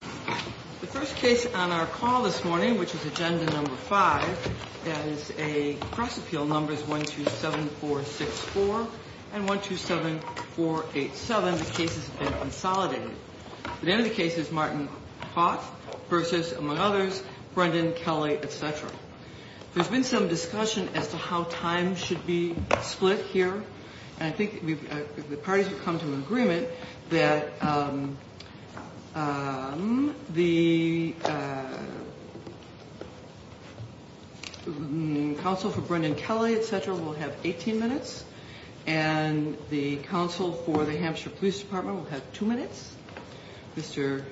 The first case on our call this morning, which is agenda number five, that is a press appeal numbers 127464 and 127487, the cases have been consolidated. The name of the case is Martin Hawth versus, among others, Brendan Kelly, etc. There's been some discussion as to how time should be split here. I think the parties have come to an agreement that the counsel for Brendan Kelly, etc. will have 18 minutes and the counsel for the Hampshire Police Department will have two minutes. Mr.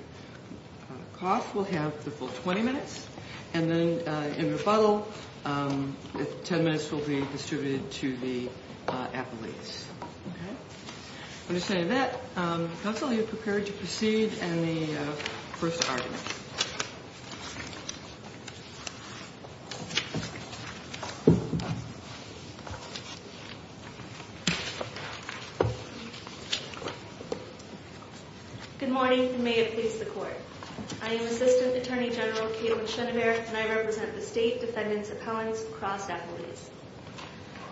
Koss will have the full 20 minutes. And then in rebuttal, 10 minutes will be distributed to the appellees. Okay. With that, counsel, are you prepared to proceed in the first argument? Good morning, and may it please the Court. I am Assistant Attorney General Kayla Schoeneberg, and I represent the State Defendant's Appellant's Crossed Appellees.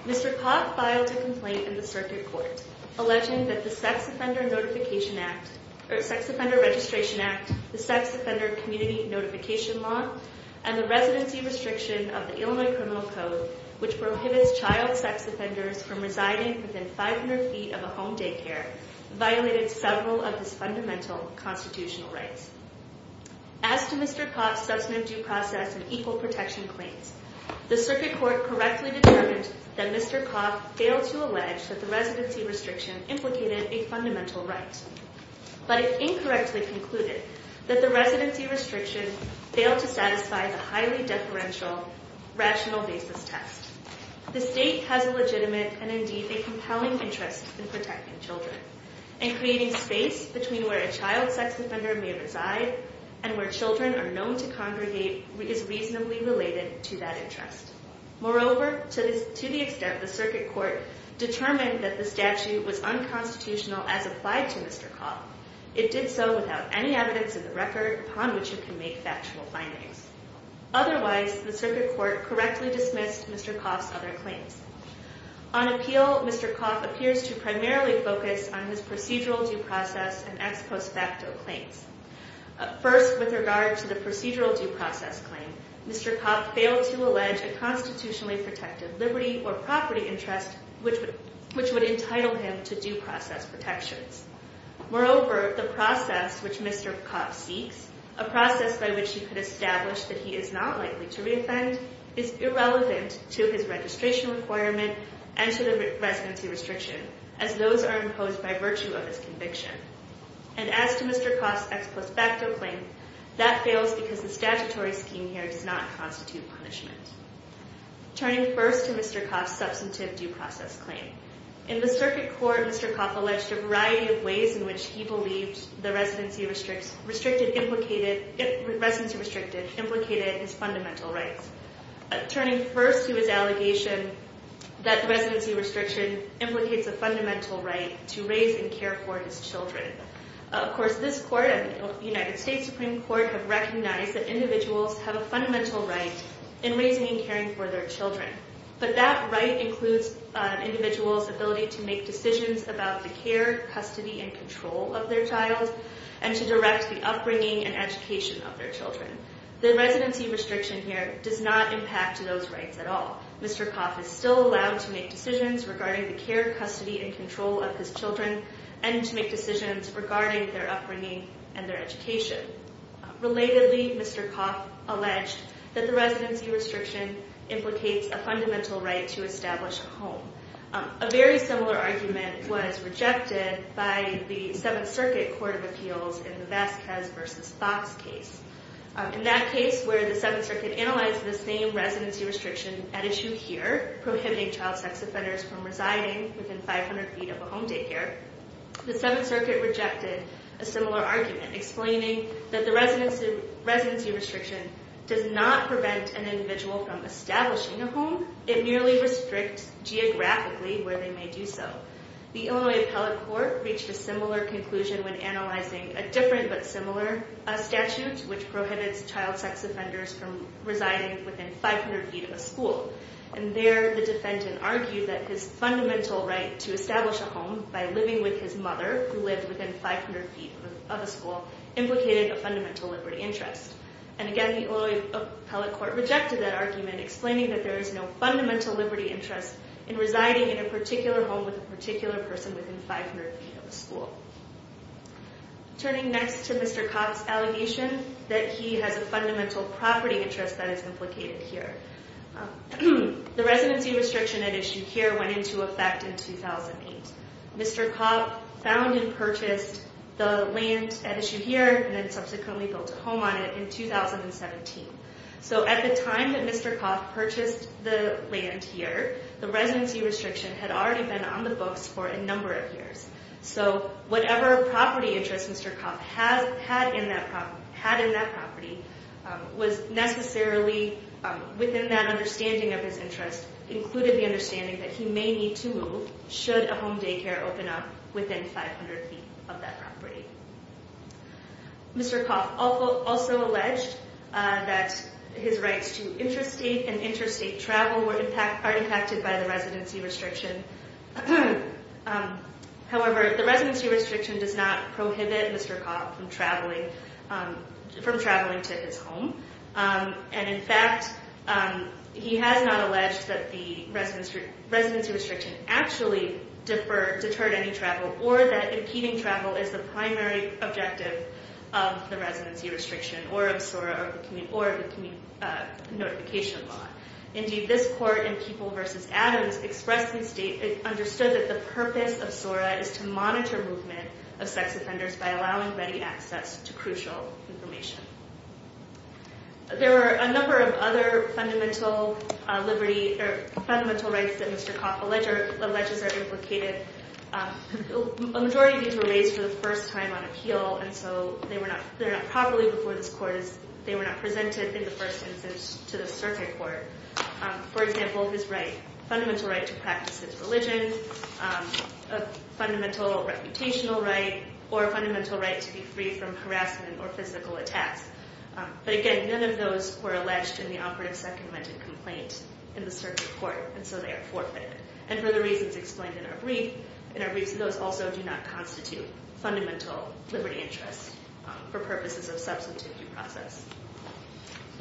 Mr. Koss filed a complaint in the Circuit Court alleging that the Sex Offender Registration Act, the Sex Offender Community Notification Law, and the residency restriction of the Illinois Criminal Code, which prohibits child sex offenders from residing within 500 feet of a home daycare, violated several of his fundamental constitutional rights. As to Mr. Koss' substantive due process and equal protection claims, the Circuit Court correctly determined that Mr. Koss failed to allege that the residency restriction implicated a fundamental right. But it incorrectly concluded that the residency restriction failed to satisfy the highly deferential rational basis test. The State has a legitimate and, indeed, a compelling interest in protecting children. And creating space between where a child sex offender may reside and where children are known to congregate is reasonably related to that interest. Moreover, to the extent the Circuit Court determined that the statute was unconstitutional as applied to Mr. Koss, it did so without any evidence in the record upon which it can make factual findings. Otherwise, the Circuit Court correctly dismissed Mr. Koss' other claims. On appeal, Mr. Koss appears to primarily focus on his procedural due process and ex post facto claims. First, with regard to the procedural due process claim, Mr. Koss failed to allege a constitutionally protective liberty or property interest which would entitle him to due process protections. Moreover, the process which Mr. Koss seeks, a process by which he could establish that he is not likely to reoffend, is irrelevant to his registration requirement and to the residency restriction, as those are imposed by virtue of his conviction. And as to Mr. Koss' ex post facto claim, that fails because the statutory scheme here does not constitute punishment. Turning first to Mr. Koss' substantive due process claim. In the Circuit Court, Mr. Koss alleged a variety of ways in which he believed the residency restricted implicated his fundamental rights. Turning first to his allegation that the residency restriction implicates a fundamental right to raise and care for his children. Of course, this court and the United States Supreme Court have recognized that individuals have a fundamental right in raising and caring for their children. But that right includes an individual's ability to make decisions about the care, custody, and control of their child and to direct the upbringing and education of their children. The residency restriction here does not impact those rights at all. Mr. Koss is still allowed to make decisions regarding the care, custody, and control of his children and to make decisions regarding their upbringing and their education. Relatedly, Mr. Koss alleged that the residency restriction implicates a fundamental right to establish a home. A very similar argument was rejected by the Seventh Circuit Court of Appeals in the Vasquez v. Fox case. In that case where the Seventh Circuit analyzed the same residency restriction at issue here, prohibiting child sex offenders from residing within 500 feet of a home daycare, the Seventh Circuit rejected a similar argument explaining that the residency restriction does not prevent an individual from establishing a home. It merely restricts geographically where they may do so. The Illinois Appellate Court reached a similar conclusion when analyzing a different but similar statute which prohibits child sex offenders from residing within 500 feet of a school. There, the defendant argued that his fundamental right to establish a home by living with his mother, who lived within 500 feet of a school, implicated a fundamental liberty interest. And again, the Illinois Appellate Court rejected that argument explaining that there is no fundamental liberty interest in residing in a particular home with a particular person within 500 feet of a school. Turning next to Mr. Koss' allegation that he has a fundamental property interest that is implicated here. The residency restriction at issue here went into effect in 2008. Mr. Koss found and purchased the land at issue here and then subsequently built a home on it in 2017. So at the time that Mr. Koss purchased the land here, the residency restriction had already been on the books for a number of years. So whatever property interest Mr. Koss had in that property was necessarily, within that understanding of his interest, included the understanding that he may need to move should a home daycare open up within 500 feet of that property. Mr. Koss also alleged that his rights to interstate and interstate travel were impacted by the residency restriction. However, the residency restriction does not prohibit Mr. Koss from traveling to his home. And in fact, he has not alleged that the residency restriction actually deterred any travel or that impeding travel is the primary objective of the residency restriction or of the communication law. Indeed, this court in People v. Adams understood that the purpose of SORA is to monitor movement of sex offenders by allowing ready access to crucial information. There are a number of other fundamental rights that Mr. Koss alleges are implicated. A majority of these were raised for the first time on appeal, and so they're not properly before this court as they were not presented in the first instance to the circuit court. For example, his right, fundamental right to practice his religion, a fundamental reputational right, or a fundamental right to be free from harassment or physical attacks. But again, none of those were alleged in the operative second amendment complaint in the circuit court, and so they are forfeited. And for the reasons explained in our briefs, those also do not constitute fundamental liberty interests for purposes of substantive due process.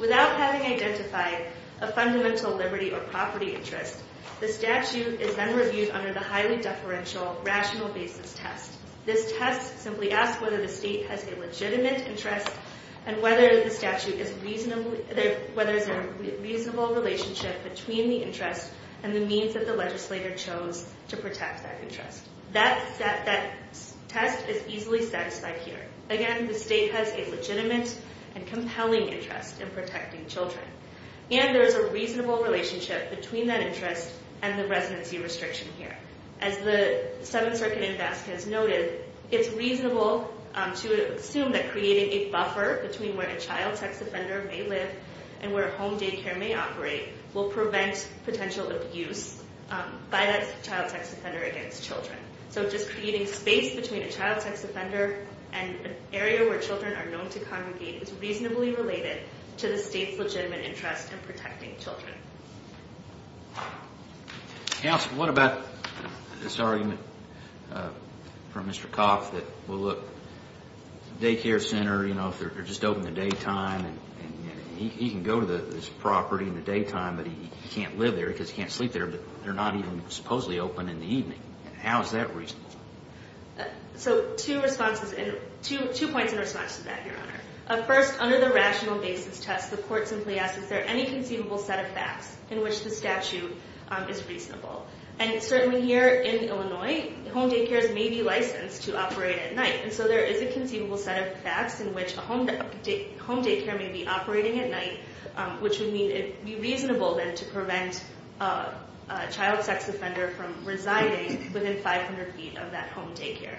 Without having identified a fundamental liberty or property interest, the statute is then reviewed under the highly deferential rational basis test. This test simply asks whether the state has a legitimate interest and whether there is a reasonable relationship between the interest and the means that the legislator chose to protect that interest. That test is easily satisfied here. Again, the state has a legitimate and compelling interest in protecting children. And there is a reasonable relationship between that interest and the residency restriction here. As the Seventh Circuit invest has noted, it's reasonable to assume that creating a buffer between where a child sex offender may live and where a home daycare may operate will prevent potential abuse by that child sex offender against children. So just creating space between a child sex offender and an area where children are known to congregate is reasonably related to the state's legitimate interest in protecting children. Counsel, what about this argument from Mr. Coff that, well, look, daycare center, you know, if they're just open in the daytime and he can go to this property in the daytime but he can't live there because he can't sleep there but they're not even supposedly open in the evening. How is that reasonable? So two responses and two points in response to that, Your Honor. First, under the rational basis test, the court simply asks, is there any conceivable set of facts in which the statute is reasonable? And certainly here in Illinois, home daycares may be licensed to operate at night. And so there is a conceivable set of facts in which a home daycare may be operating at night, which would mean it would be reasonable then to prevent a child sex offender from residing within 500 feet of that home daycare.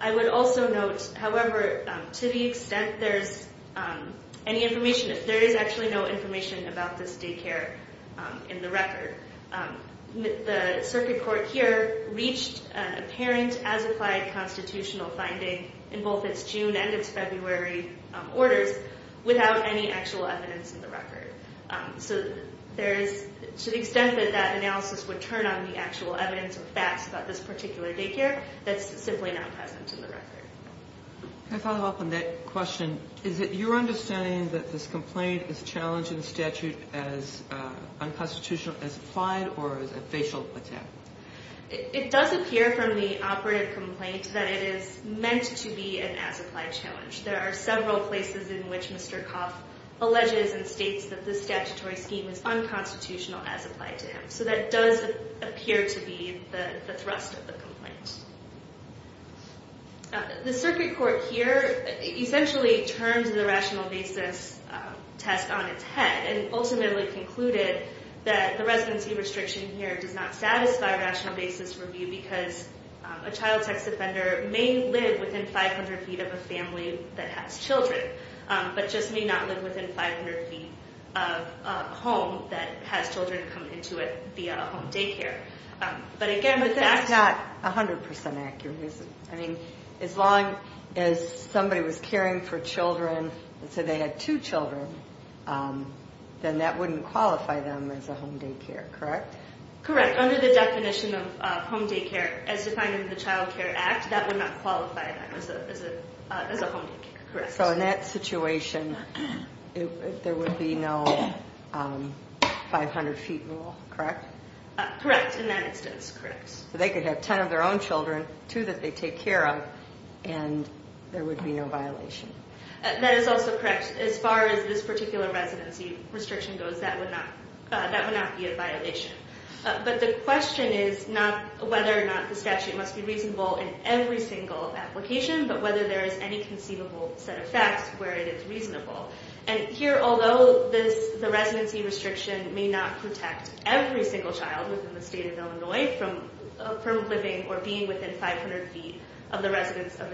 I would also note, however, to the extent there's any information, there is actually no information about this daycare in the record. The circuit court here reached an apparent as applied constitutional finding in both its June and its February orders without any actual evidence in the record. So there is, to the extent that that analysis would turn on the actual evidence or facts about this particular daycare, that's simply not present in the record. Can I follow up on that question? Is it your understanding that this complaint is challenged in statute as unconstitutional, as applied, or as a facial attack? It does appear from the operative complaint that it is meant to be an as applied challenge. There are several places in which Mr. Coff alleges and states that this statutory scheme is unconstitutional as applied to him. So that does appear to be the thrust of the complaint. The circuit court here essentially turned the rational basis test on its head and ultimately concluded that the residency restriction here does not satisfy rational basis review because a child sex offender may live within 500 feet of a family that has children, but just may not live within 500 feet of a home that has children come into it via a home daycare. But that's not 100% accurate, is it? I mean, as long as somebody was caring for children, let's say they had two children, then that wouldn't qualify them as a home daycare, correct? Correct. Under the definition of home daycare as defined in the Child Care Act, that would not qualify them as a home daycare, correct. So in that situation, there would be no 500 feet rule, correct? Correct. In that instance, correct. So they could have 10 of their own children, two that they take care of, and there would be no violation. That is also correct. As far as this particular residency restriction goes, that would not be a violation. But the question is not whether or not the statute must be reasonable in every single application, but whether there is any conceivable set of facts where it is reasonable. And here, although the residency restriction may not protect every single child within the state of Illinois from living or being within 500 feet of the residence of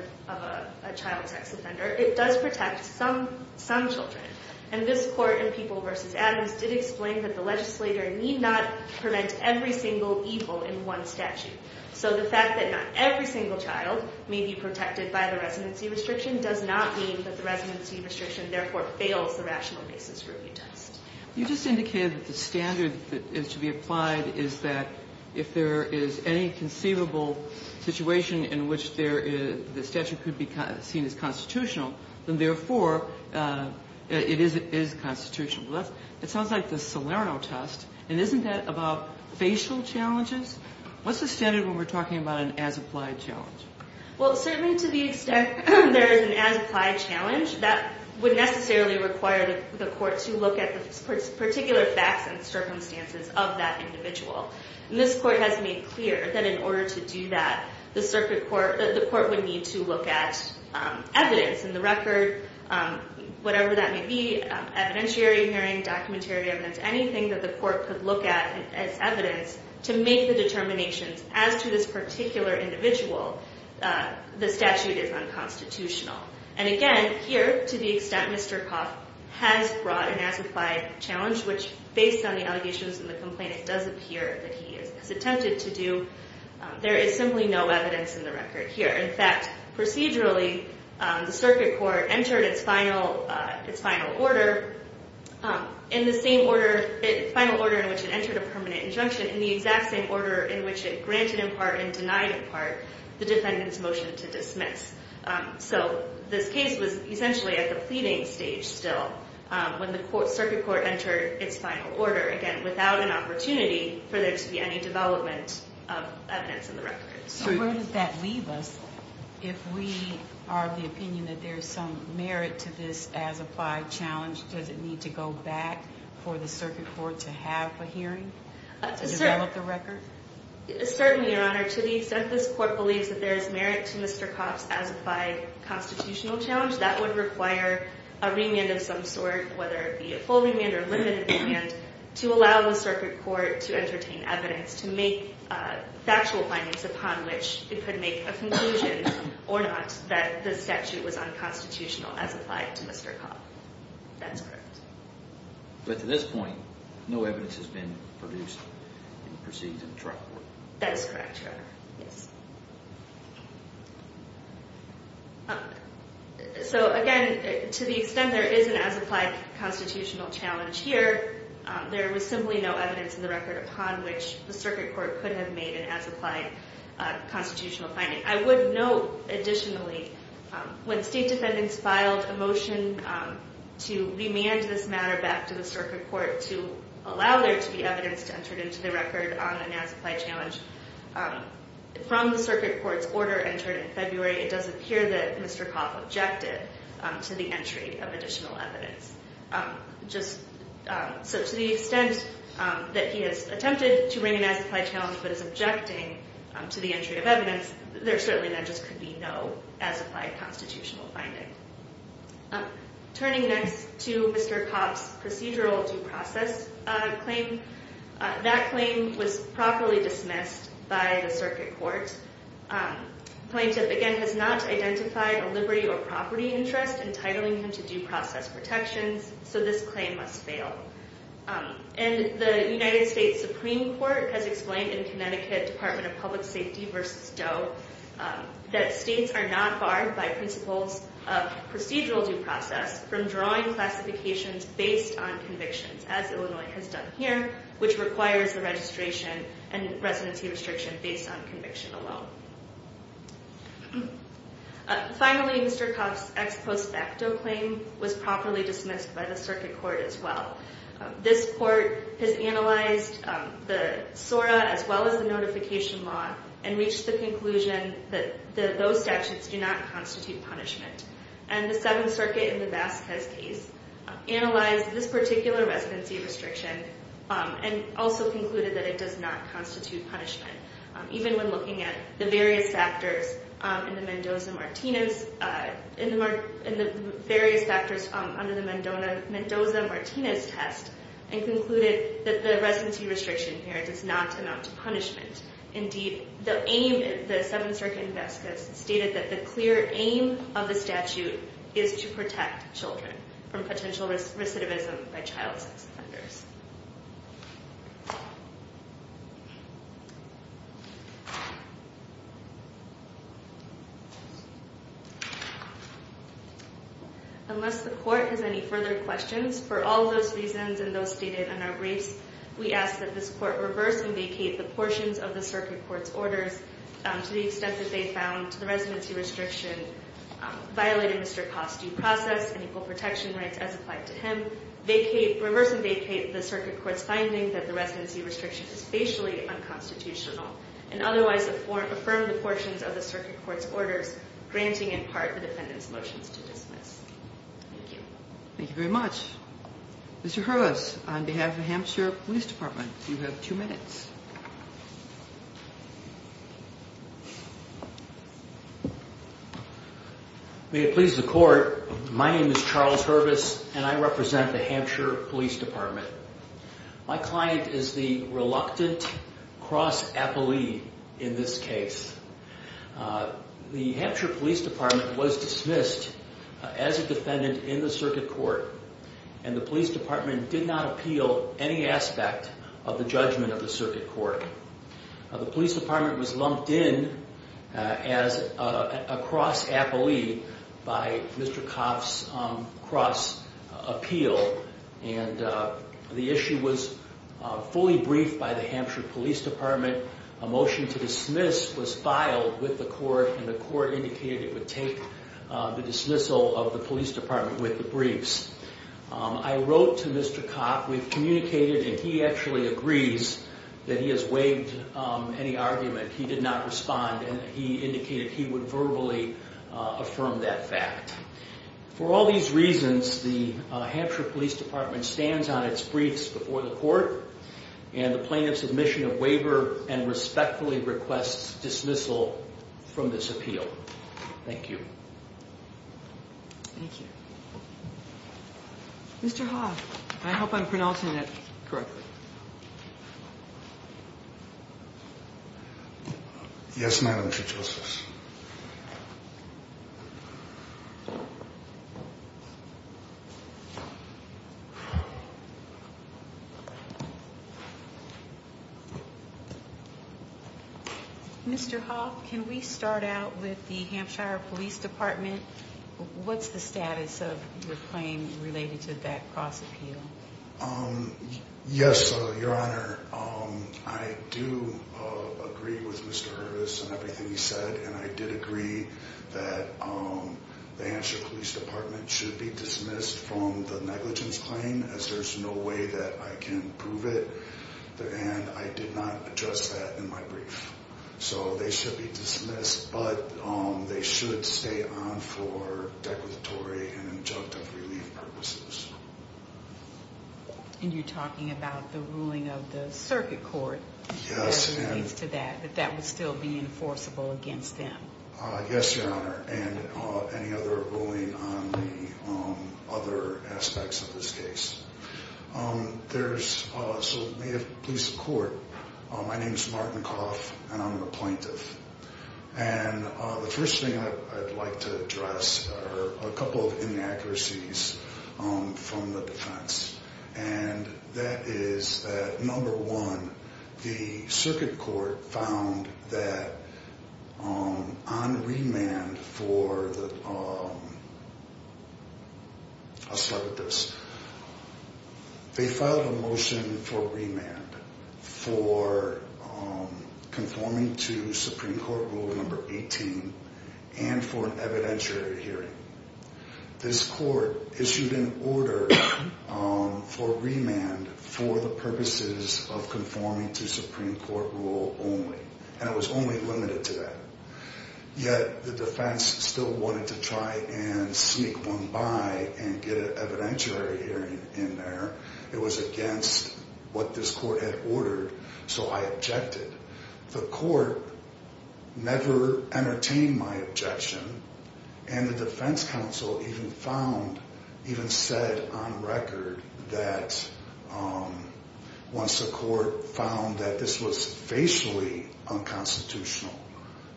a child sex offender, it does protect some children. And this court in People v. Adams did explain that the legislator need not prevent every single evil in one statute. So the fact that not every single child may be protected by the residency restriction does not mean that the residency restriction therefore fails the rational basis review test. You just indicated that the standard that is to be applied is that if there is any conceivable situation in which the statute could be seen as constitutional, then therefore it is constitutional. It sounds like the Salerno test, and isn't that about facial challenges? What's the standard when we're talking about an as-applied challenge? Well, certainly to the extent there is an as-applied challenge, that would necessarily require the court to look at the particular facts and circumstances of that individual. And this court has made clear that in order to do that, the circuit court, the court would need to look at evidence in the record, whatever that may be, evidentiary hearing, documentary evidence, anything that the court could look at as evidence to make the determinations as to this particular individual, the statute is unconstitutional. And again, here, to the extent Mr. Coff has brought an as-applied challenge, which based on the allegations and the complaint it does appear that he has attempted to do, there is simply no evidence in the record here. In fact, procedurally, the circuit court entered its final order in which it entered a permanent injunction in the exact same order in which it granted in part and denied in part the defendant's motion to dismiss. So this case was essentially at the pleading stage still when the circuit court entered its final order, again, without an opportunity for there to be any development of evidence in the record. So where does that leave us if we are of the opinion that there is some merit to this as-applied challenge? Does it need to go back for the circuit court to have a hearing to develop the record? Certainly, Your Honor. To the extent this court believes that there is merit to Mr. Coff's as-applied constitutional challenge, that would require a remand of some sort, whether it be a full remand or a limited remand, to allow the circuit court to entertain evidence, to make factual findings upon which it could make a conclusion or not that the statute was unconstitutional as applied to Mr. Coff. That's correct. But to this point, no evidence has been produced in the proceedings of the trial court. That is correct, Your Honor. So, again, to the extent there is an as-applied constitutional challenge here, there was simply no evidence in the record upon which the circuit court could have made an as-applied constitutional finding. I would note, additionally, when state defendants filed a motion to remand this matter back to the circuit court to allow there to be evidence to enter into the record on an as-applied challenge, from the circuit court's order entered in February, it does appear that Mr. Coff objected to the entry of additional evidence. So, to the extent that he has attempted to bring an as-applied challenge but is objecting to the entry of evidence, there certainly then just could be no as-applied constitutional finding. Turning next to Mr. Coff's procedural due process claim, that claim was properly dismissed by the circuit court. Plaintiff, again, has not identified a liberty or property interest entitling him to due process protections, so this claim must fail. And the United States Supreme Court has explained in Connecticut Department of Public Safety v. Doe that states are not barred by principles of procedural due process from drawing classifications based on convictions, as Illinois has done here, which requires the registration and residency restriction based on conviction alone. Finally, Mr. Coff's ex post facto claim was properly dismissed by the circuit court as well. This court has analyzed the SORA as well as the notification law and reached the conclusion that those statutes do not constitute punishment. And the Seventh Circuit in the Vasquez case analyzed this particular residency restriction and also concluded that it does not constitute punishment, even when looking at the various factors under the Mendoza-Martinez test and concluded that the residency restriction here does not amount to punishment. Indeed, the aim of the Seventh Circuit in Vasquez stated that the clear aim of the statute is to protect children from potential recidivism by child sex offenders. Unless the court has any further questions, for all those reasons and those stated in our briefs, we ask that this court reverse and vacate the portions of the circuit court's orders to the extent that they found the residency restriction violated Mr. Coff's due process and equal protection rights as applied to him. We ask that the court reverse and vacate the circuit court's finding that the residency restriction is spatially unconstitutional and otherwise affirm the portions of the circuit court's orders, granting in part the defendant's motions to dismiss. Thank you. Thank you very much. Mr. Hurwitz, on behalf of the Hampshire Police Department, you have two minutes. May it please the court, my name is Charles Hurwitz and I represent the Hampshire Police Department. My client is the reluctant cross-appellee in this case. The Hampshire Police Department was dismissed as a defendant in the circuit court and the police department did not appeal any aspect of the judgment of the circuit court. The police department was lumped in as a cross-appellee by Mr. Coff's cross-appeal and the issue was fully briefed by the Hampshire Police Department. A motion to dismiss was filed with the court and the court indicated it would take the dismissal of the police department with the briefs. I wrote to Mr. Coff. We've communicated and he actually agrees that he has waived any argument. He did not respond and he indicated he would verbally affirm that fact. For all these reasons, the Hampshire Police Department stands on its briefs before the court and the plaintiff's admission of waiver and respectfully requests dismissal from this appeal. Thank you. Thank you. Mr. Hoff, I hope I'm pronouncing that correctly. Yes, Madam Chief Justice. Mr. Hoff, can we start out with the Hampshire Police Department? What's the status of your claim related to that cross-appeal? Yes, Your Honor. I do agree with Mr. Hurst and everything he said and I did agree that the Hampshire Police Department should be dismissed from the negligence claim as there's no way that I can prove it and I did not address that in my brief. So they should be dismissed but they should stay on for declaratory and injunctive relief purposes. And you're talking about the ruling of the circuit court as it relates to that, that that would still be enforceable against them. Yes, Your Honor. And any other ruling on the other aspects of this case. There's, so may it please the court. My name is Martin Coff and I'm a plaintiff. And the first thing I'd like to address are a couple of inaccuracies from the defense and that is that number one, the circuit court found that on remand for the, I'll start with this. They filed a motion for remand for conforming to Supreme Court rule number 18 and for an evidentiary hearing. This court issued an order for remand for the purposes of conforming to Supreme Court rule only and it was only limited to that. Yet the defense still wanted to try and sneak one by and get an evidentiary hearing in there. It was against what this court had ordered. So I objected. The court never entertained my objection and the defense counsel even found, even said on record that once the court found that this was facially unconstitutional.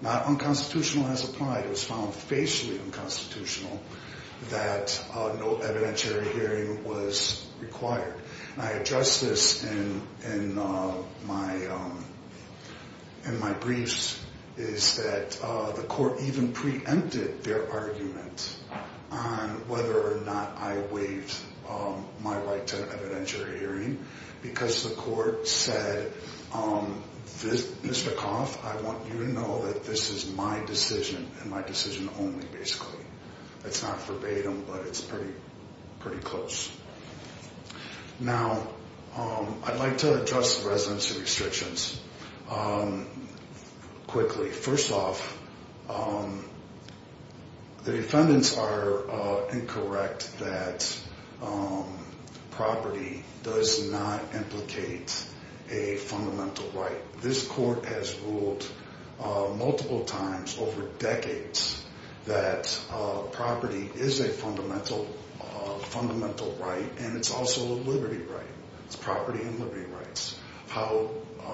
Not unconstitutional as applied. It was found facially unconstitutional that no evidentiary hearing was required. And I address this in my briefs is that the court even preempted their argument on whether or not I waived my right to evidentiary hearing because the court said, Mr. Coff, I want you to know that this is my decision and my decision only basically. It's not verbatim, but it's pretty, pretty close. Now, I'd like to address the residency restrictions quickly. First off, the defendants are incorrect that property does not implicate a fundamental right. This court has ruled multiple times over decades that property is a fundamental right and it's also a liberty right. It's property and liberty rights. How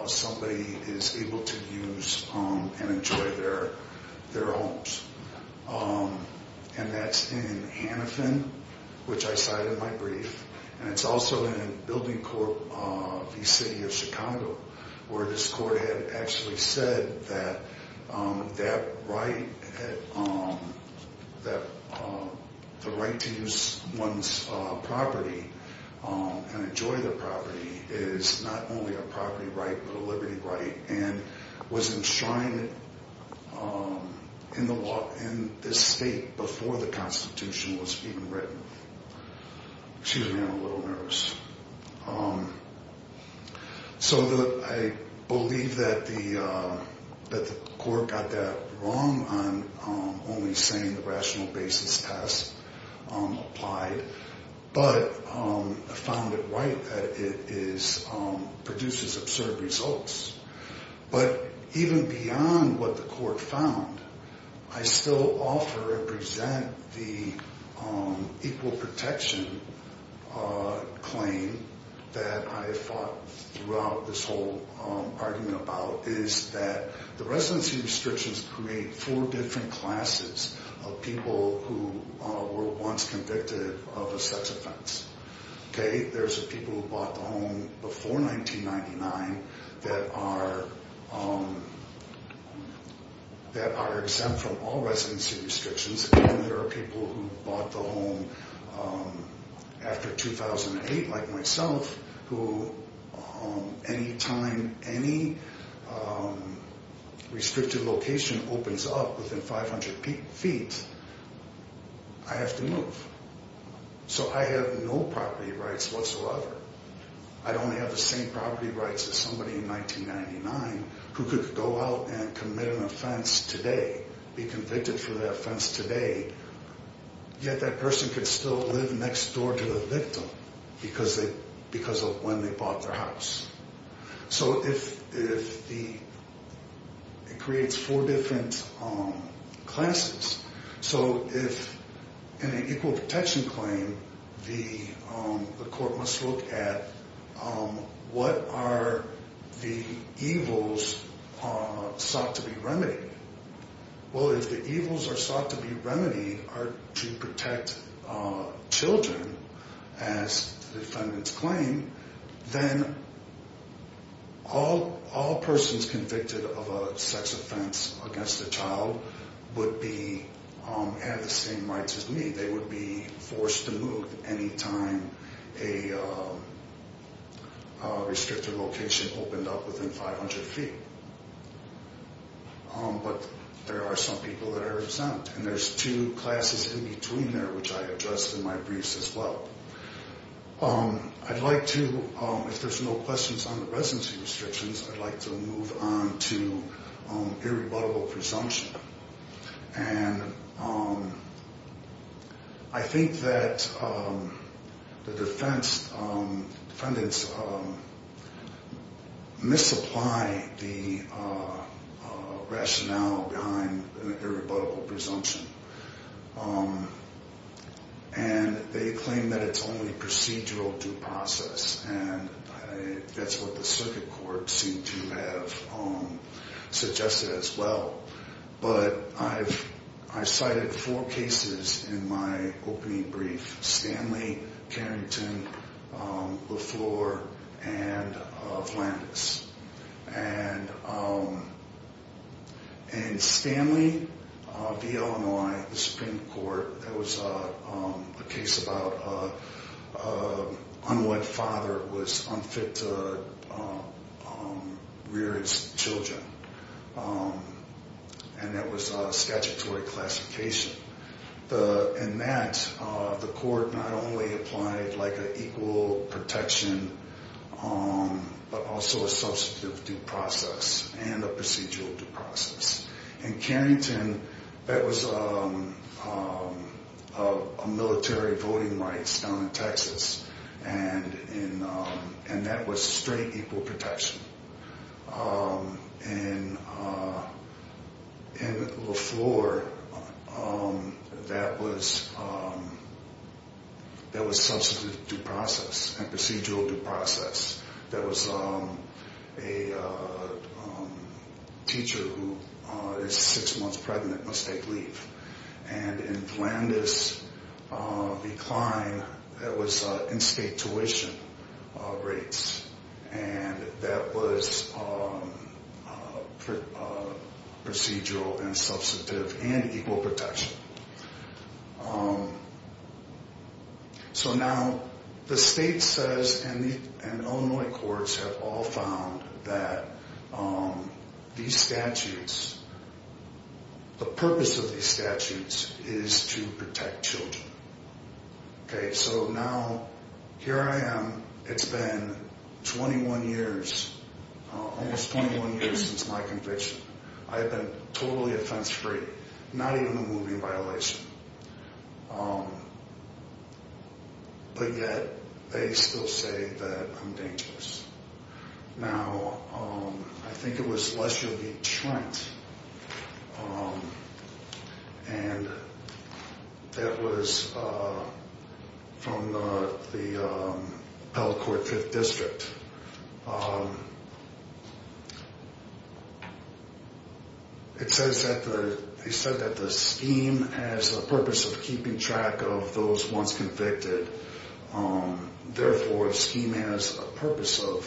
somebody is able to use and enjoy their homes. And that's in Hannafin, which I cited in my brief. And it's also in Building Corp v. City of Chicago, where this court had actually said that that right, that the right to use one's property and enjoy their property is not only a right, but it's also a right. It's not only a property right, but a liberty right and was enshrined in the law in this state before the Constitution was even written. Excuse me, I'm a little nervous. So I believe that the court got that wrong on only saying the rational basis test applied, but I found it right that it produces absurd results. But even beyond what the court found, I still offer and present the equal protection claim that I fought throughout this whole argument about is that the residency restrictions create four different classes of people who were once convicted of a sex offense. There's people who bought the home before 1999 that are exempt from all residency restrictions. And there are people who bought the home after 2008, like myself, who any time any restricted location opens up within 500 feet, I have to move. So I have no property rights whatsoever. I'd only have the same property rights as somebody in 1999 who could go out and commit an offense today, be convicted for that offense today, yet that person could still live next door to the victim because of when they bought their house. So it creates four different classes. So if in an equal protection claim, the court must look at what are the evils sought to be remedied. Well, if the evils are sought to be remedied are to protect children, as the defendants claim, then all persons convicted of a sex offense against a child would have the same rights as me. They would be forced to move any time a restricted location opened up within 500 feet. But there are some people that are exempt. And there's two classes in between there, which I addressed in my briefs as well. I'd like to, if there's no questions on the residency restrictions, I'd like to move on to irrebuttable presumption. And I think that the defendants misapply the rationale behind irrebuttable presumption. And they claim that it's only procedural due process. And that's what the circuit court seemed to have suggested as well. But I've cited four cases in my opening brief, Stanley, Carrington, Lafleur, and Flanders. And in Stanley v. Illinois, the Supreme Court, there was a case about an unwed father who was unfit to rear his children. And that was a statutory classification. And that, the court not only applied like an equal protection, but also a substantive due process and a procedural due process. In Carrington, that was a military voting rights down in Texas. And that was straight equal protection. In Lafleur, that was substantive due process and procedural due process. That was a teacher who is six months pregnant, must take leave. And in Flanders, the client, that was in-state tuition rates. And that was procedural and substantive and equal protection. So now, the state says and Illinois courts have all found that these statutes, the purpose of these statutes is to protect children. Okay, so now, here I am. It's been 21 years, almost 21 years since my conviction. I have been totally offense-free, not even a moving violation. But yet, they still say that I'm dangerous. Now, I think it was Lesher v. Trent, and that was from the Appellate Court Fifth District. It says that the scheme has a purpose of keeping track of those once convicted. Therefore, the scheme has a purpose of,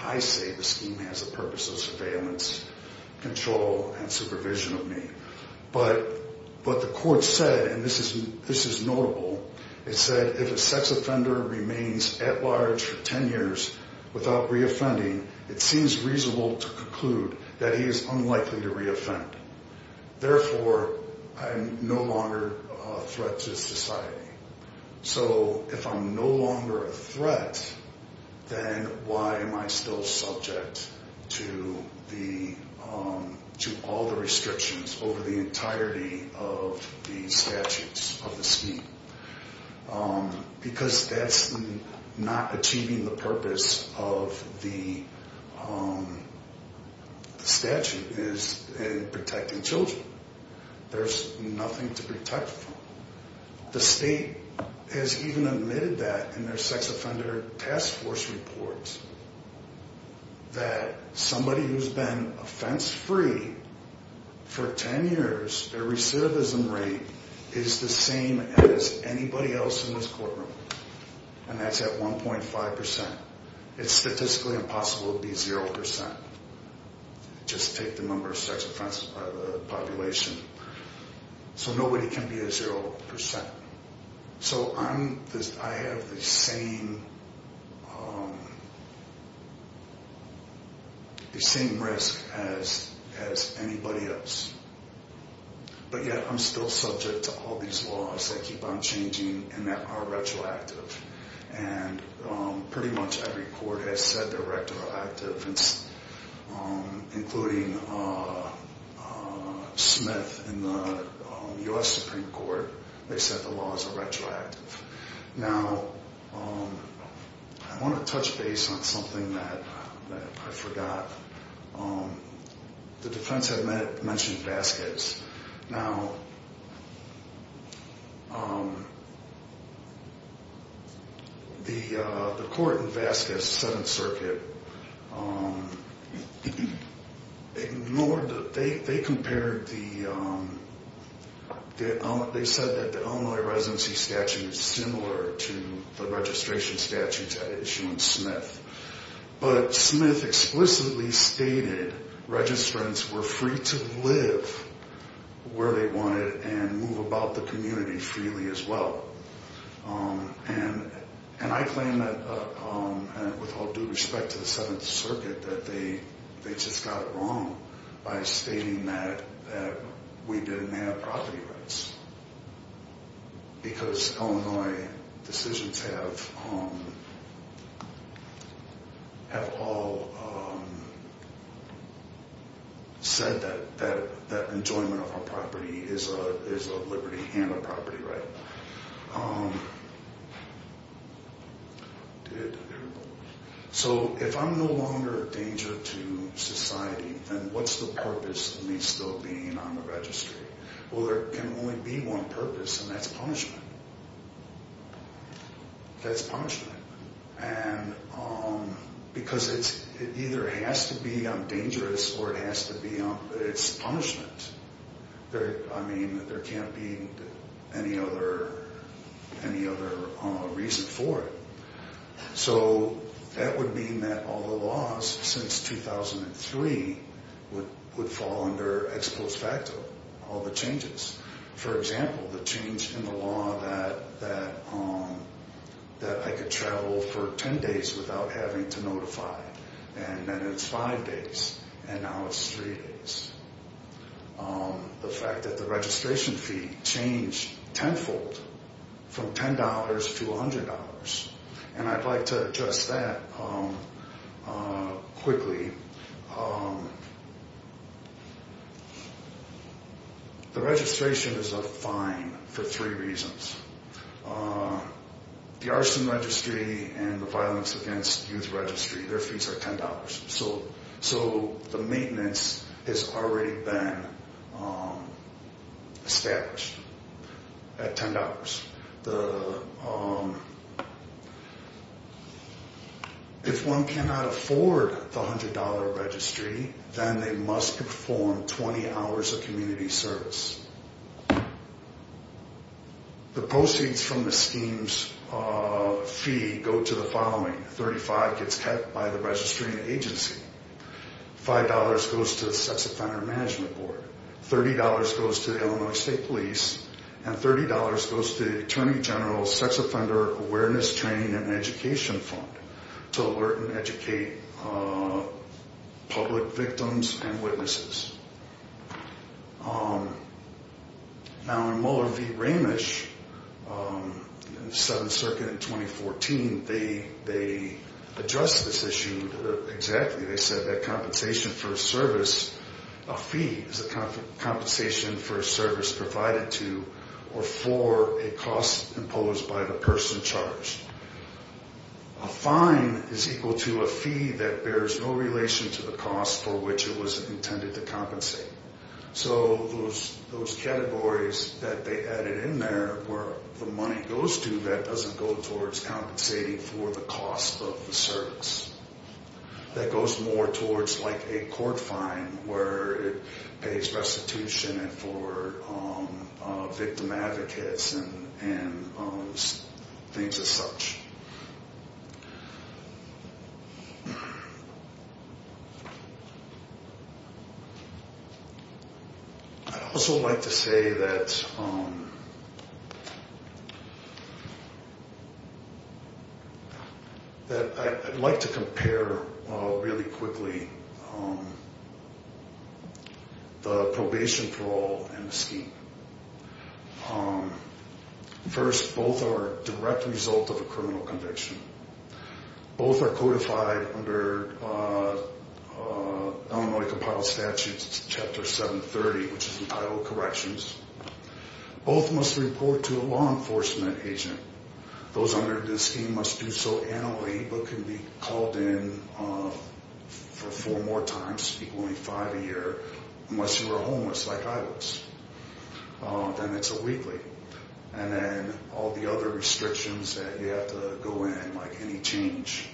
I say the scheme has a purpose of surveillance, control, and supervision of me. But the court said, and this is notable, it said if a sex offender remains at large for 10 years without reoffending, it seems reasonable to conclude that he is unlikely to reoffend. Because that's not achieving the purpose of the statute is in protecting children. There's nothing to protect from. The state has even admitted that in their sex offender task force reports, that somebody who's been offense-free for 10 years, their recidivism rate is the same as anybody else in this courtroom. And that's at 1.5%. It's statistically impossible to be 0%. Just take the number of sex offenses by the population. So nobody can be a 0%. So I have the same risk as anybody else. But yet I'm still subject to all these laws that keep on changing and that are retroactive. And pretty much every court has said they're retroactive, including Smith in the U.S. Supreme Court. They said the laws are retroactive. Now, I want to touch base on something that I forgot. The defense had mentioned Vasquez. Now, the court in Vasquez, 7th Circuit, ignored the, they compared the, they said that the Illinois Residency Statute is similar to the registration statute that issued in Smith. But Smith explicitly stated registrants were free to live where they wanted and move about the community freely as well. And I claim that, with all due respect to the 7th Circuit, that they just got it wrong by stating that we didn't have property rights. Because Illinois decisions have all said that enjoyment of a property is a liberty and a property right. So if I'm no longer a danger to society, then what's the purpose of me still being on the registry? Well, there can only be one purpose, and that's punishment. That's punishment. And because it either has to be dangerous or it has to be, it's punishment. I mean, there can't be any other reason for it. So that would mean that all the laws since 2003 would fall under ex post facto, all the changes. For example, the change in the law that I could travel for 10 days without having to notify, and then it's 5 days, and now it's 3 days. The fact that the registration fee changed tenfold from $10 to $100. And I'd like to address that quickly. The registration is a fine for three reasons. The arson registry and the violence against youth registry, their fees are $10. So the maintenance has already been established at $10. If one cannot afford the $100 registry, then they must perform 20 hours of community service. The proceeds from the scheme's fee go to the following. It goes to the Attorney General's Sex Offender Awareness, Training, and Education Fund to alert and educate public victims and witnesses. Now in Muller v. Ramish, 7th Circuit in 2014, they addressed this issue exactly. They said that compensation for a service, a fee is a compensation for a service provided to or for a cost imposed by the person charged. A fine is equal to a fee that bears no relation to the cost for which it was intended to compensate. So those categories that they added in there where the money goes to, that doesn't go towards compensating for the cost of the service. That goes more towards like a court fine where it pays restitution for victim advocates and things as such. I'd also like to say that I'd like to compare really quickly the probation for all and the scheme. First, both are a direct result of a criminal conviction. Both are codified under Illinois Compiled Statutes, Chapter 730, which is entitled Corrections. Both must report to a law enforcement agent. Those under the scheme must do so annually but can be called in for four more times, equaling five a year, unless you are homeless like I was. Then it's a weekly. And then all the other restrictions that you have to go in, like any change,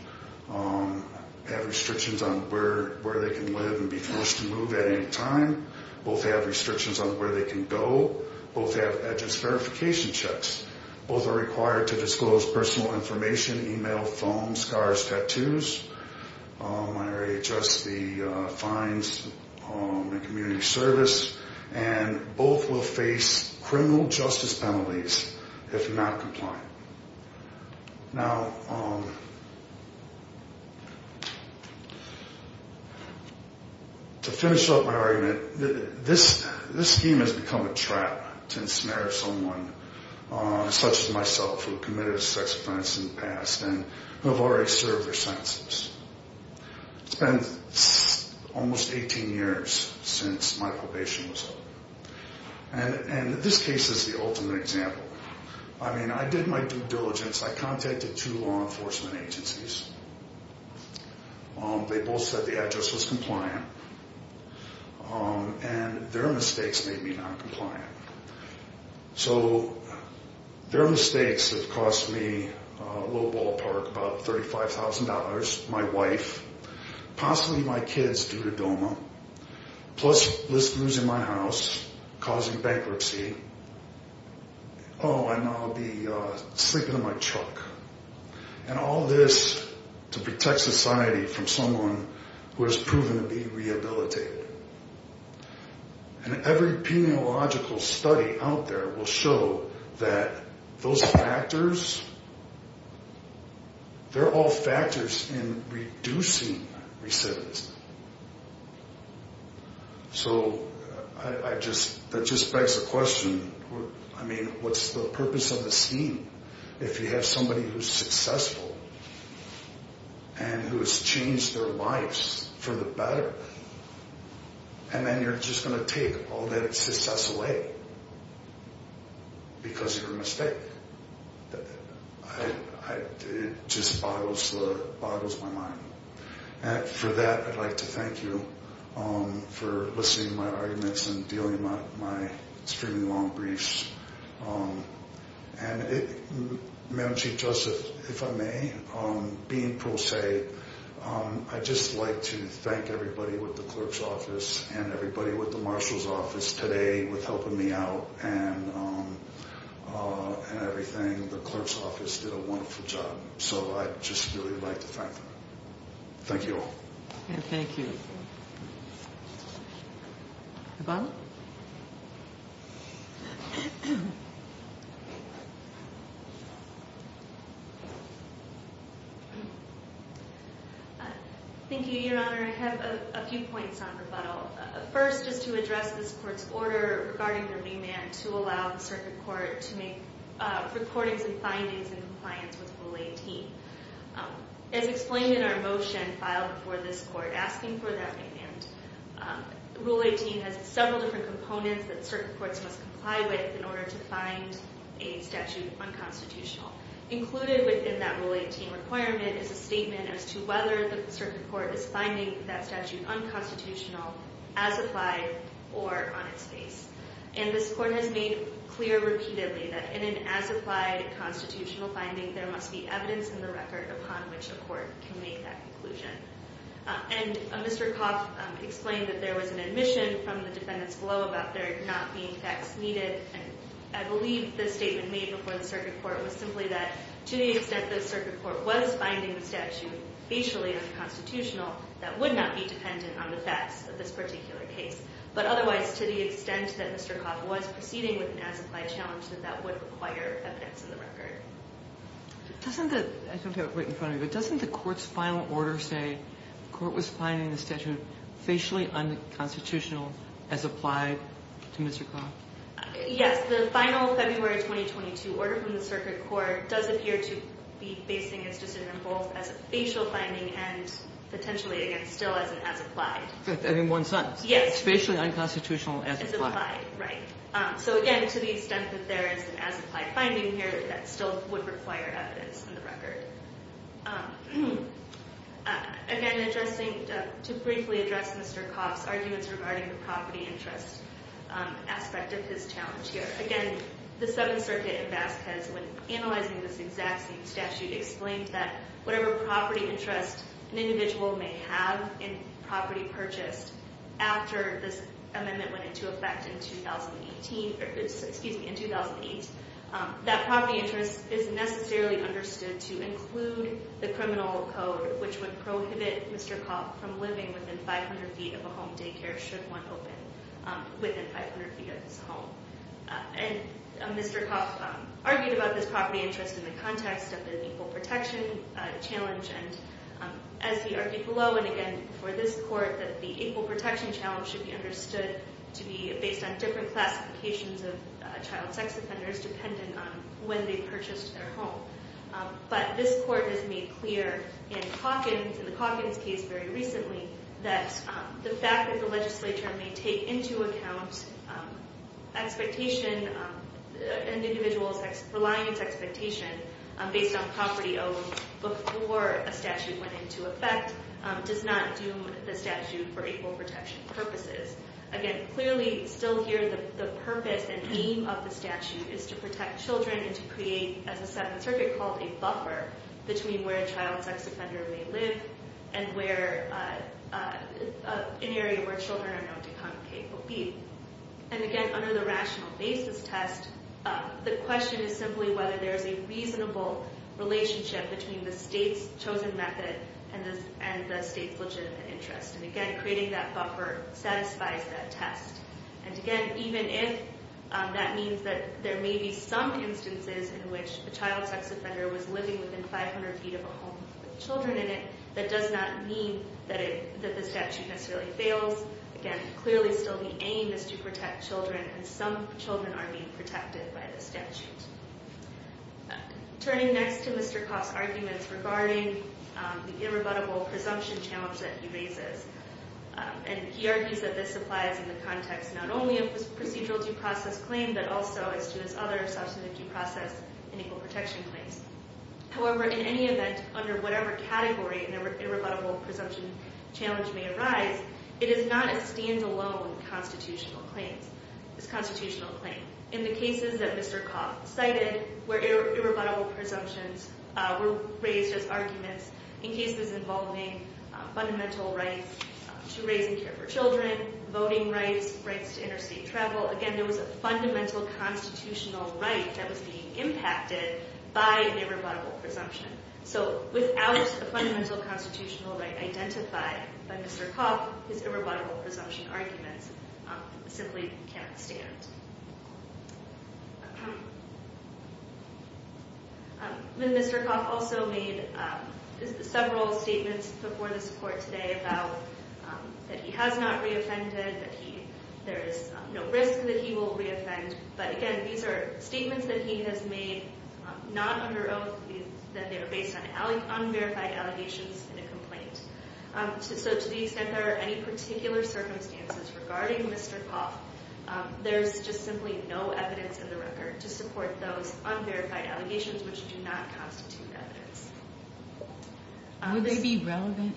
have restrictions on where they can live and be forced to move at any time. Both have restrictions on where they can go. Both have edges verification checks. Both are required to disclose personal information, email, phone, scars, tattoos. I already addressed the fines and community service. And both will face criminal justice penalties if not compliant. Now, to finish up my argument, this scheme has become a trap to ensnare someone such as myself who committed a sex offense in the past and who have already served their sentences. It's been almost 18 years since my probation was up. And this case is the ultimate example. I mean, I did my due diligence. I contacted two law enforcement agencies. They both said the address was compliant. And their mistakes made me noncompliant. So their mistakes have cost me a little ballpark, about $35,000, my wife, possibly my kids due to DOMA, plus losing my house, causing bankruptcy. Oh, and I'll be sleeping in my truck. And all this to protect society from someone who has proven to be rehabilitated. And every peniological study out there will show that those factors, they're all factors in reducing recidivism. So that just begs the question, I mean, what's the purpose of the scheme if you have somebody who's successful and who has changed their lives for the better? And then you're just going to take all that success away because of your mistake. It just boggles my mind. And for that, I'd like to thank you for listening to my arguments and dealing with my extremely long briefs. And Madam Chief Justice, if I may, being pro se, I'd just like to thank everybody with the clerk's office and everybody with the marshal's office today with helping me out and everything. The clerk's office did a wonderful job, so I'd just really like to thank them. Thank you all. Thank you. Rebuttal? Thank you, Your Honor. I have a few points on rebuttal. First is to address this court's order regarding the remand to allow the circuit court to make recordings and findings in compliance with Rule 18. As explained in our motion filed before this court asking for that remand, Rule 18 has several different components that circuit courts must comply with in order to find a statute unconstitutional. Included within that Rule 18 requirement is a statement as to whether the circuit court is finding that statute unconstitutional as applied or on its face. And this court has made clear repeatedly that in an as-applied constitutional finding, there must be evidence in the record upon which a court can make that conclusion. And Mr. Coff explained that there was an admission from the defendants below about there not being facts needed. And I believe the statement made before the circuit court was simply that to the extent the circuit court was finding the statute facially unconstitutional, that would not be dependent on the facts of this particular case. But otherwise, to the extent that Mr. Coff was proceeding with an as-applied challenge, that that would require evidence in the record. I don't have it right in front of me, but doesn't the court's final order say the court was finding the statute facially unconstitutional as applied to Mr. Coff? Yes. The final February 2022 order from the circuit court does appear to be basing its decision both as a facial finding and potentially, again, still as an as-applied. I mean one sentence. Yes. Facially unconstitutional as applied. As applied, right. So again, to the extent that there is an as-applied finding here, that still would require evidence in the record. Again, addressing, to briefly address Mr. Coff's arguments regarding the property interest aspect of his challenge here. Again, the Seventh Circuit in Vasquez, when analyzing this exact same statute, explained that whatever property interest an individual may have in property purchased, after this amendment went into effect in 2018, excuse me, in 2008, that property interest is necessarily understood to include the criminal code, which would prohibit Mr. Coff from living within 500 feet of a home daycare should one open within 500 feet of his home. And Mr. Coff argued about this property interest in the context of an equal protection challenge, and as he argued below and again before this court, that the equal protection challenge should be understood to be based on different classifications of child sex offenders, depending on when they purchased their home. But this court has made clear in Calkins, in the Calkins case very recently, that the fact that the legislature may take into account expectation, an individual's reliance expectation, based on property owned before a statute went into effect, does not doom the statute for equal protection purposes. Again, clearly, still here, the purpose and aim of the statute is to protect children and to create, as the Seventh Circuit called it, a buffer between where a child sex offender may live and where, an area where children are known to congregate or be. And again, under the rational basis test, the question is simply whether there is a reasonable relationship between the state's chosen method and the state's legitimate interest. And again, creating that buffer satisfies that test. And again, even if that means that there may be some instances in which a child sex offender was living within 500 feet of a home with children in it, that does not mean that the statute necessarily fails. Again, clearly still the aim is to protect children, and some children are being protected by the statute. Turning next to Mr. Coff's arguments regarding the irrebuttable presumption challenge that he raises, and he argues that this applies in the context not only of his procedural due process claim, but also as to his other substantive due process and equal protection claims. However, in any event, under whatever category an irrebuttable presumption challenge may arise, it is not a stand-alone constitutional claim. It's a constitutional claim. In the cases that Mr. Coff cited, where irrebuttable presumptions were raised as arguments, in cases involving fundamental rights to raising care for children, voting rights, rights to interstate travel, again, there was a fundamental constitutional right that was being impacted by an irrebuttable presumption. So without a fundamental constitutional right identified by Mr. Coff, his irrebuttable presumption arguments simply can't stand. Mr. Coff also made several statements before this court today about that he has not reoffended, that there is no risk that he will reoffend, but again, these are statements that he has made not under oath, and they're based on unverified allegations in a complaint. So to the extent there are any particular circumstances regarding Mr. Coff, there's just simply no evidence in the record to support those unverified allegations which do not constitute evidence. Would they be relevant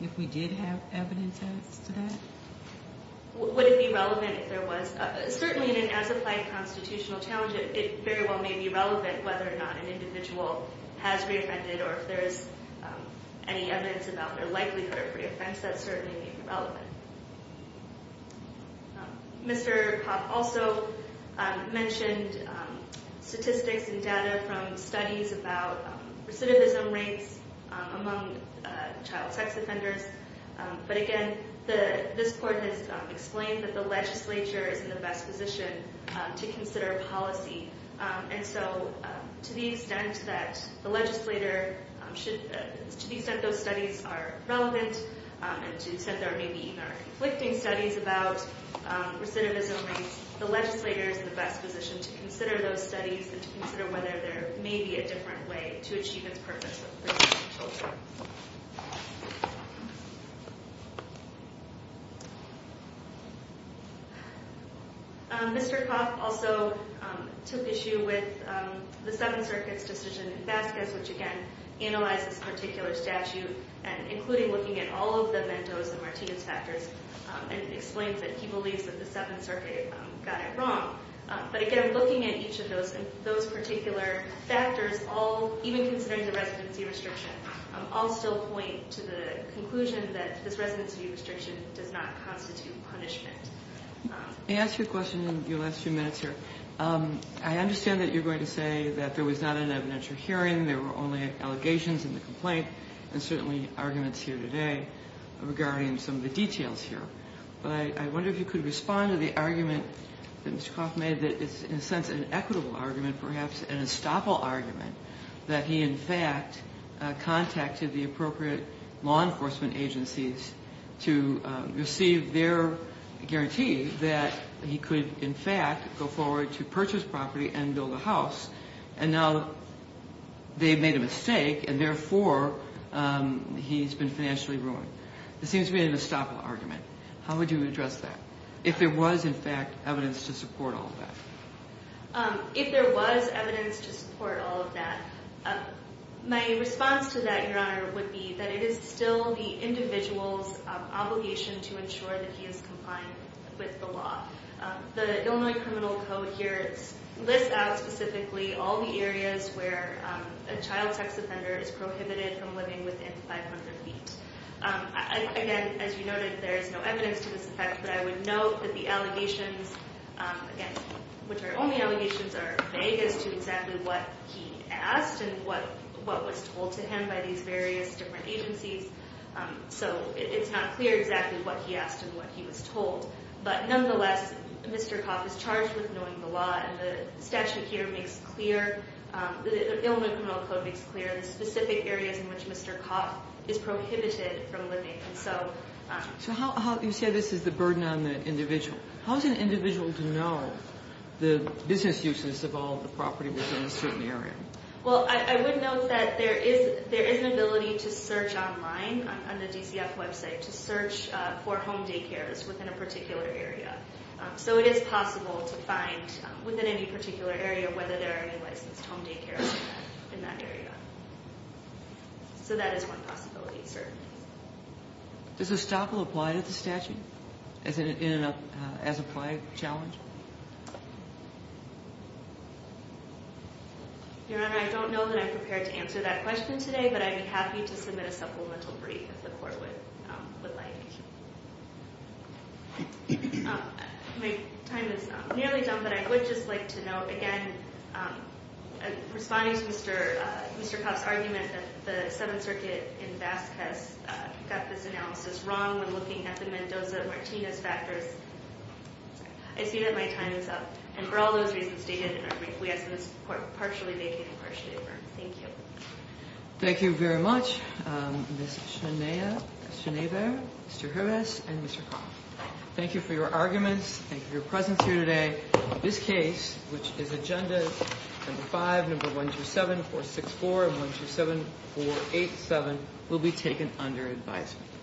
if we did have evidence as to that? Would it be relevant if there was? Certainly in an as-applied constitutional challenge, it very well may be relevant whether or not an individual has reoffended, or if there is any evidence about their likelihood of reoffense, that certainly may be relevant. Mr. Coff also mentioned statistics and data from studies about recidivism rates among child sex offenders, but again, this court has explained that the legislature is in the best position to consider policy, and so to the extent that those studies are relevant, and to the extent there may be even conflicting studies about recidivism rates, the legislature is in the best position to consider those studies and to consider whether there may be a different way to achieve its purpose with children. Mr. Coff also took issue with the Seventh Circuit's decision in Vasquez, which again, analyzes this particular statute, including looking at all of the Mendoza-Martinez factors, and explains that he believes that the Seventh Circuit got it wrong. But again, looking at each of those particular factors, even considering the residency restriction, I'll still point to the conclusion that this residency restriction does not constitute punishment. May I ask you a question in your last few minutes here? I understand that you're going to say that there was not an evidentiary hearing, there were only allegations in the complaint, and certainly arguments here today regarding some of the details here. But I wonder if you could respond to the argument that Mr. Coff made, that it's in a sense an equitable argument, perhaps an estoppel argument, that he in fact contacted the appropriate law enforcement agencies to receive their guarantee that he could in fact go forward to purchase property and build a house, and now they've made a mistake and therefore he's been financially ruined. It seems to be an estoppel argument. How would you address that? If there was in fact evidence to support all of that. If there was evidence to support all of that. My response to that, Your Honor, would be that it is still the individual's obligation to ensure that he is compliant with the law. The Illinois Criminal Code here lists out specifically all the areas where a child sex offender is prohibited from living within 500 feet. Again, as you noted, there is no evidence to this effect, but I would note that the allegations, which are only allegations, are vague as to exactly what he asked and what was told to him by these various different agencies. So it's not clear exactly what he asked and what he was told. But nonetheless, Mr. Coff is charged with knowing the law, and the statute here makes clear, the Illinois Criminal Code makes clear, the specific areas in which Mr. Coff is prohibited from living. So you say this is the burden on the individual. How is an individual to know the business uses of all the property within a certain area? Well, I would note that there is an ability to search online on the DCF website to search for home daycares within a particular area. So it is possible to find within any particular area whether there are any licensed home daycares in that area. So that is one possibility, certainly. Does estoppel apply to the statute as an applied challenge? Your Honor, I don't know that I'm prepared to answer that question today, but I'd be happy to submit a supplemental brief if the Court would like. My time is nearly done, but I would just like to note, again, in responding to Mr. Coff's argument that the Seventh Circuit in Basque has got this analysis wrong when looking at the Mendoza-Martinez factors. I see that my time is up. And for all those reasons stated in our brief, we ask that the Court partially vacate and partially affirm. Thank you. Thank you very much, Ms. Schneider, Mr. Hervas, and Mr. Coff. Thank you for your arguments. Thank you for your presence here today. This case, which is Agenda No. 5, No. 127-464 and 127-487, will be taken under advisement.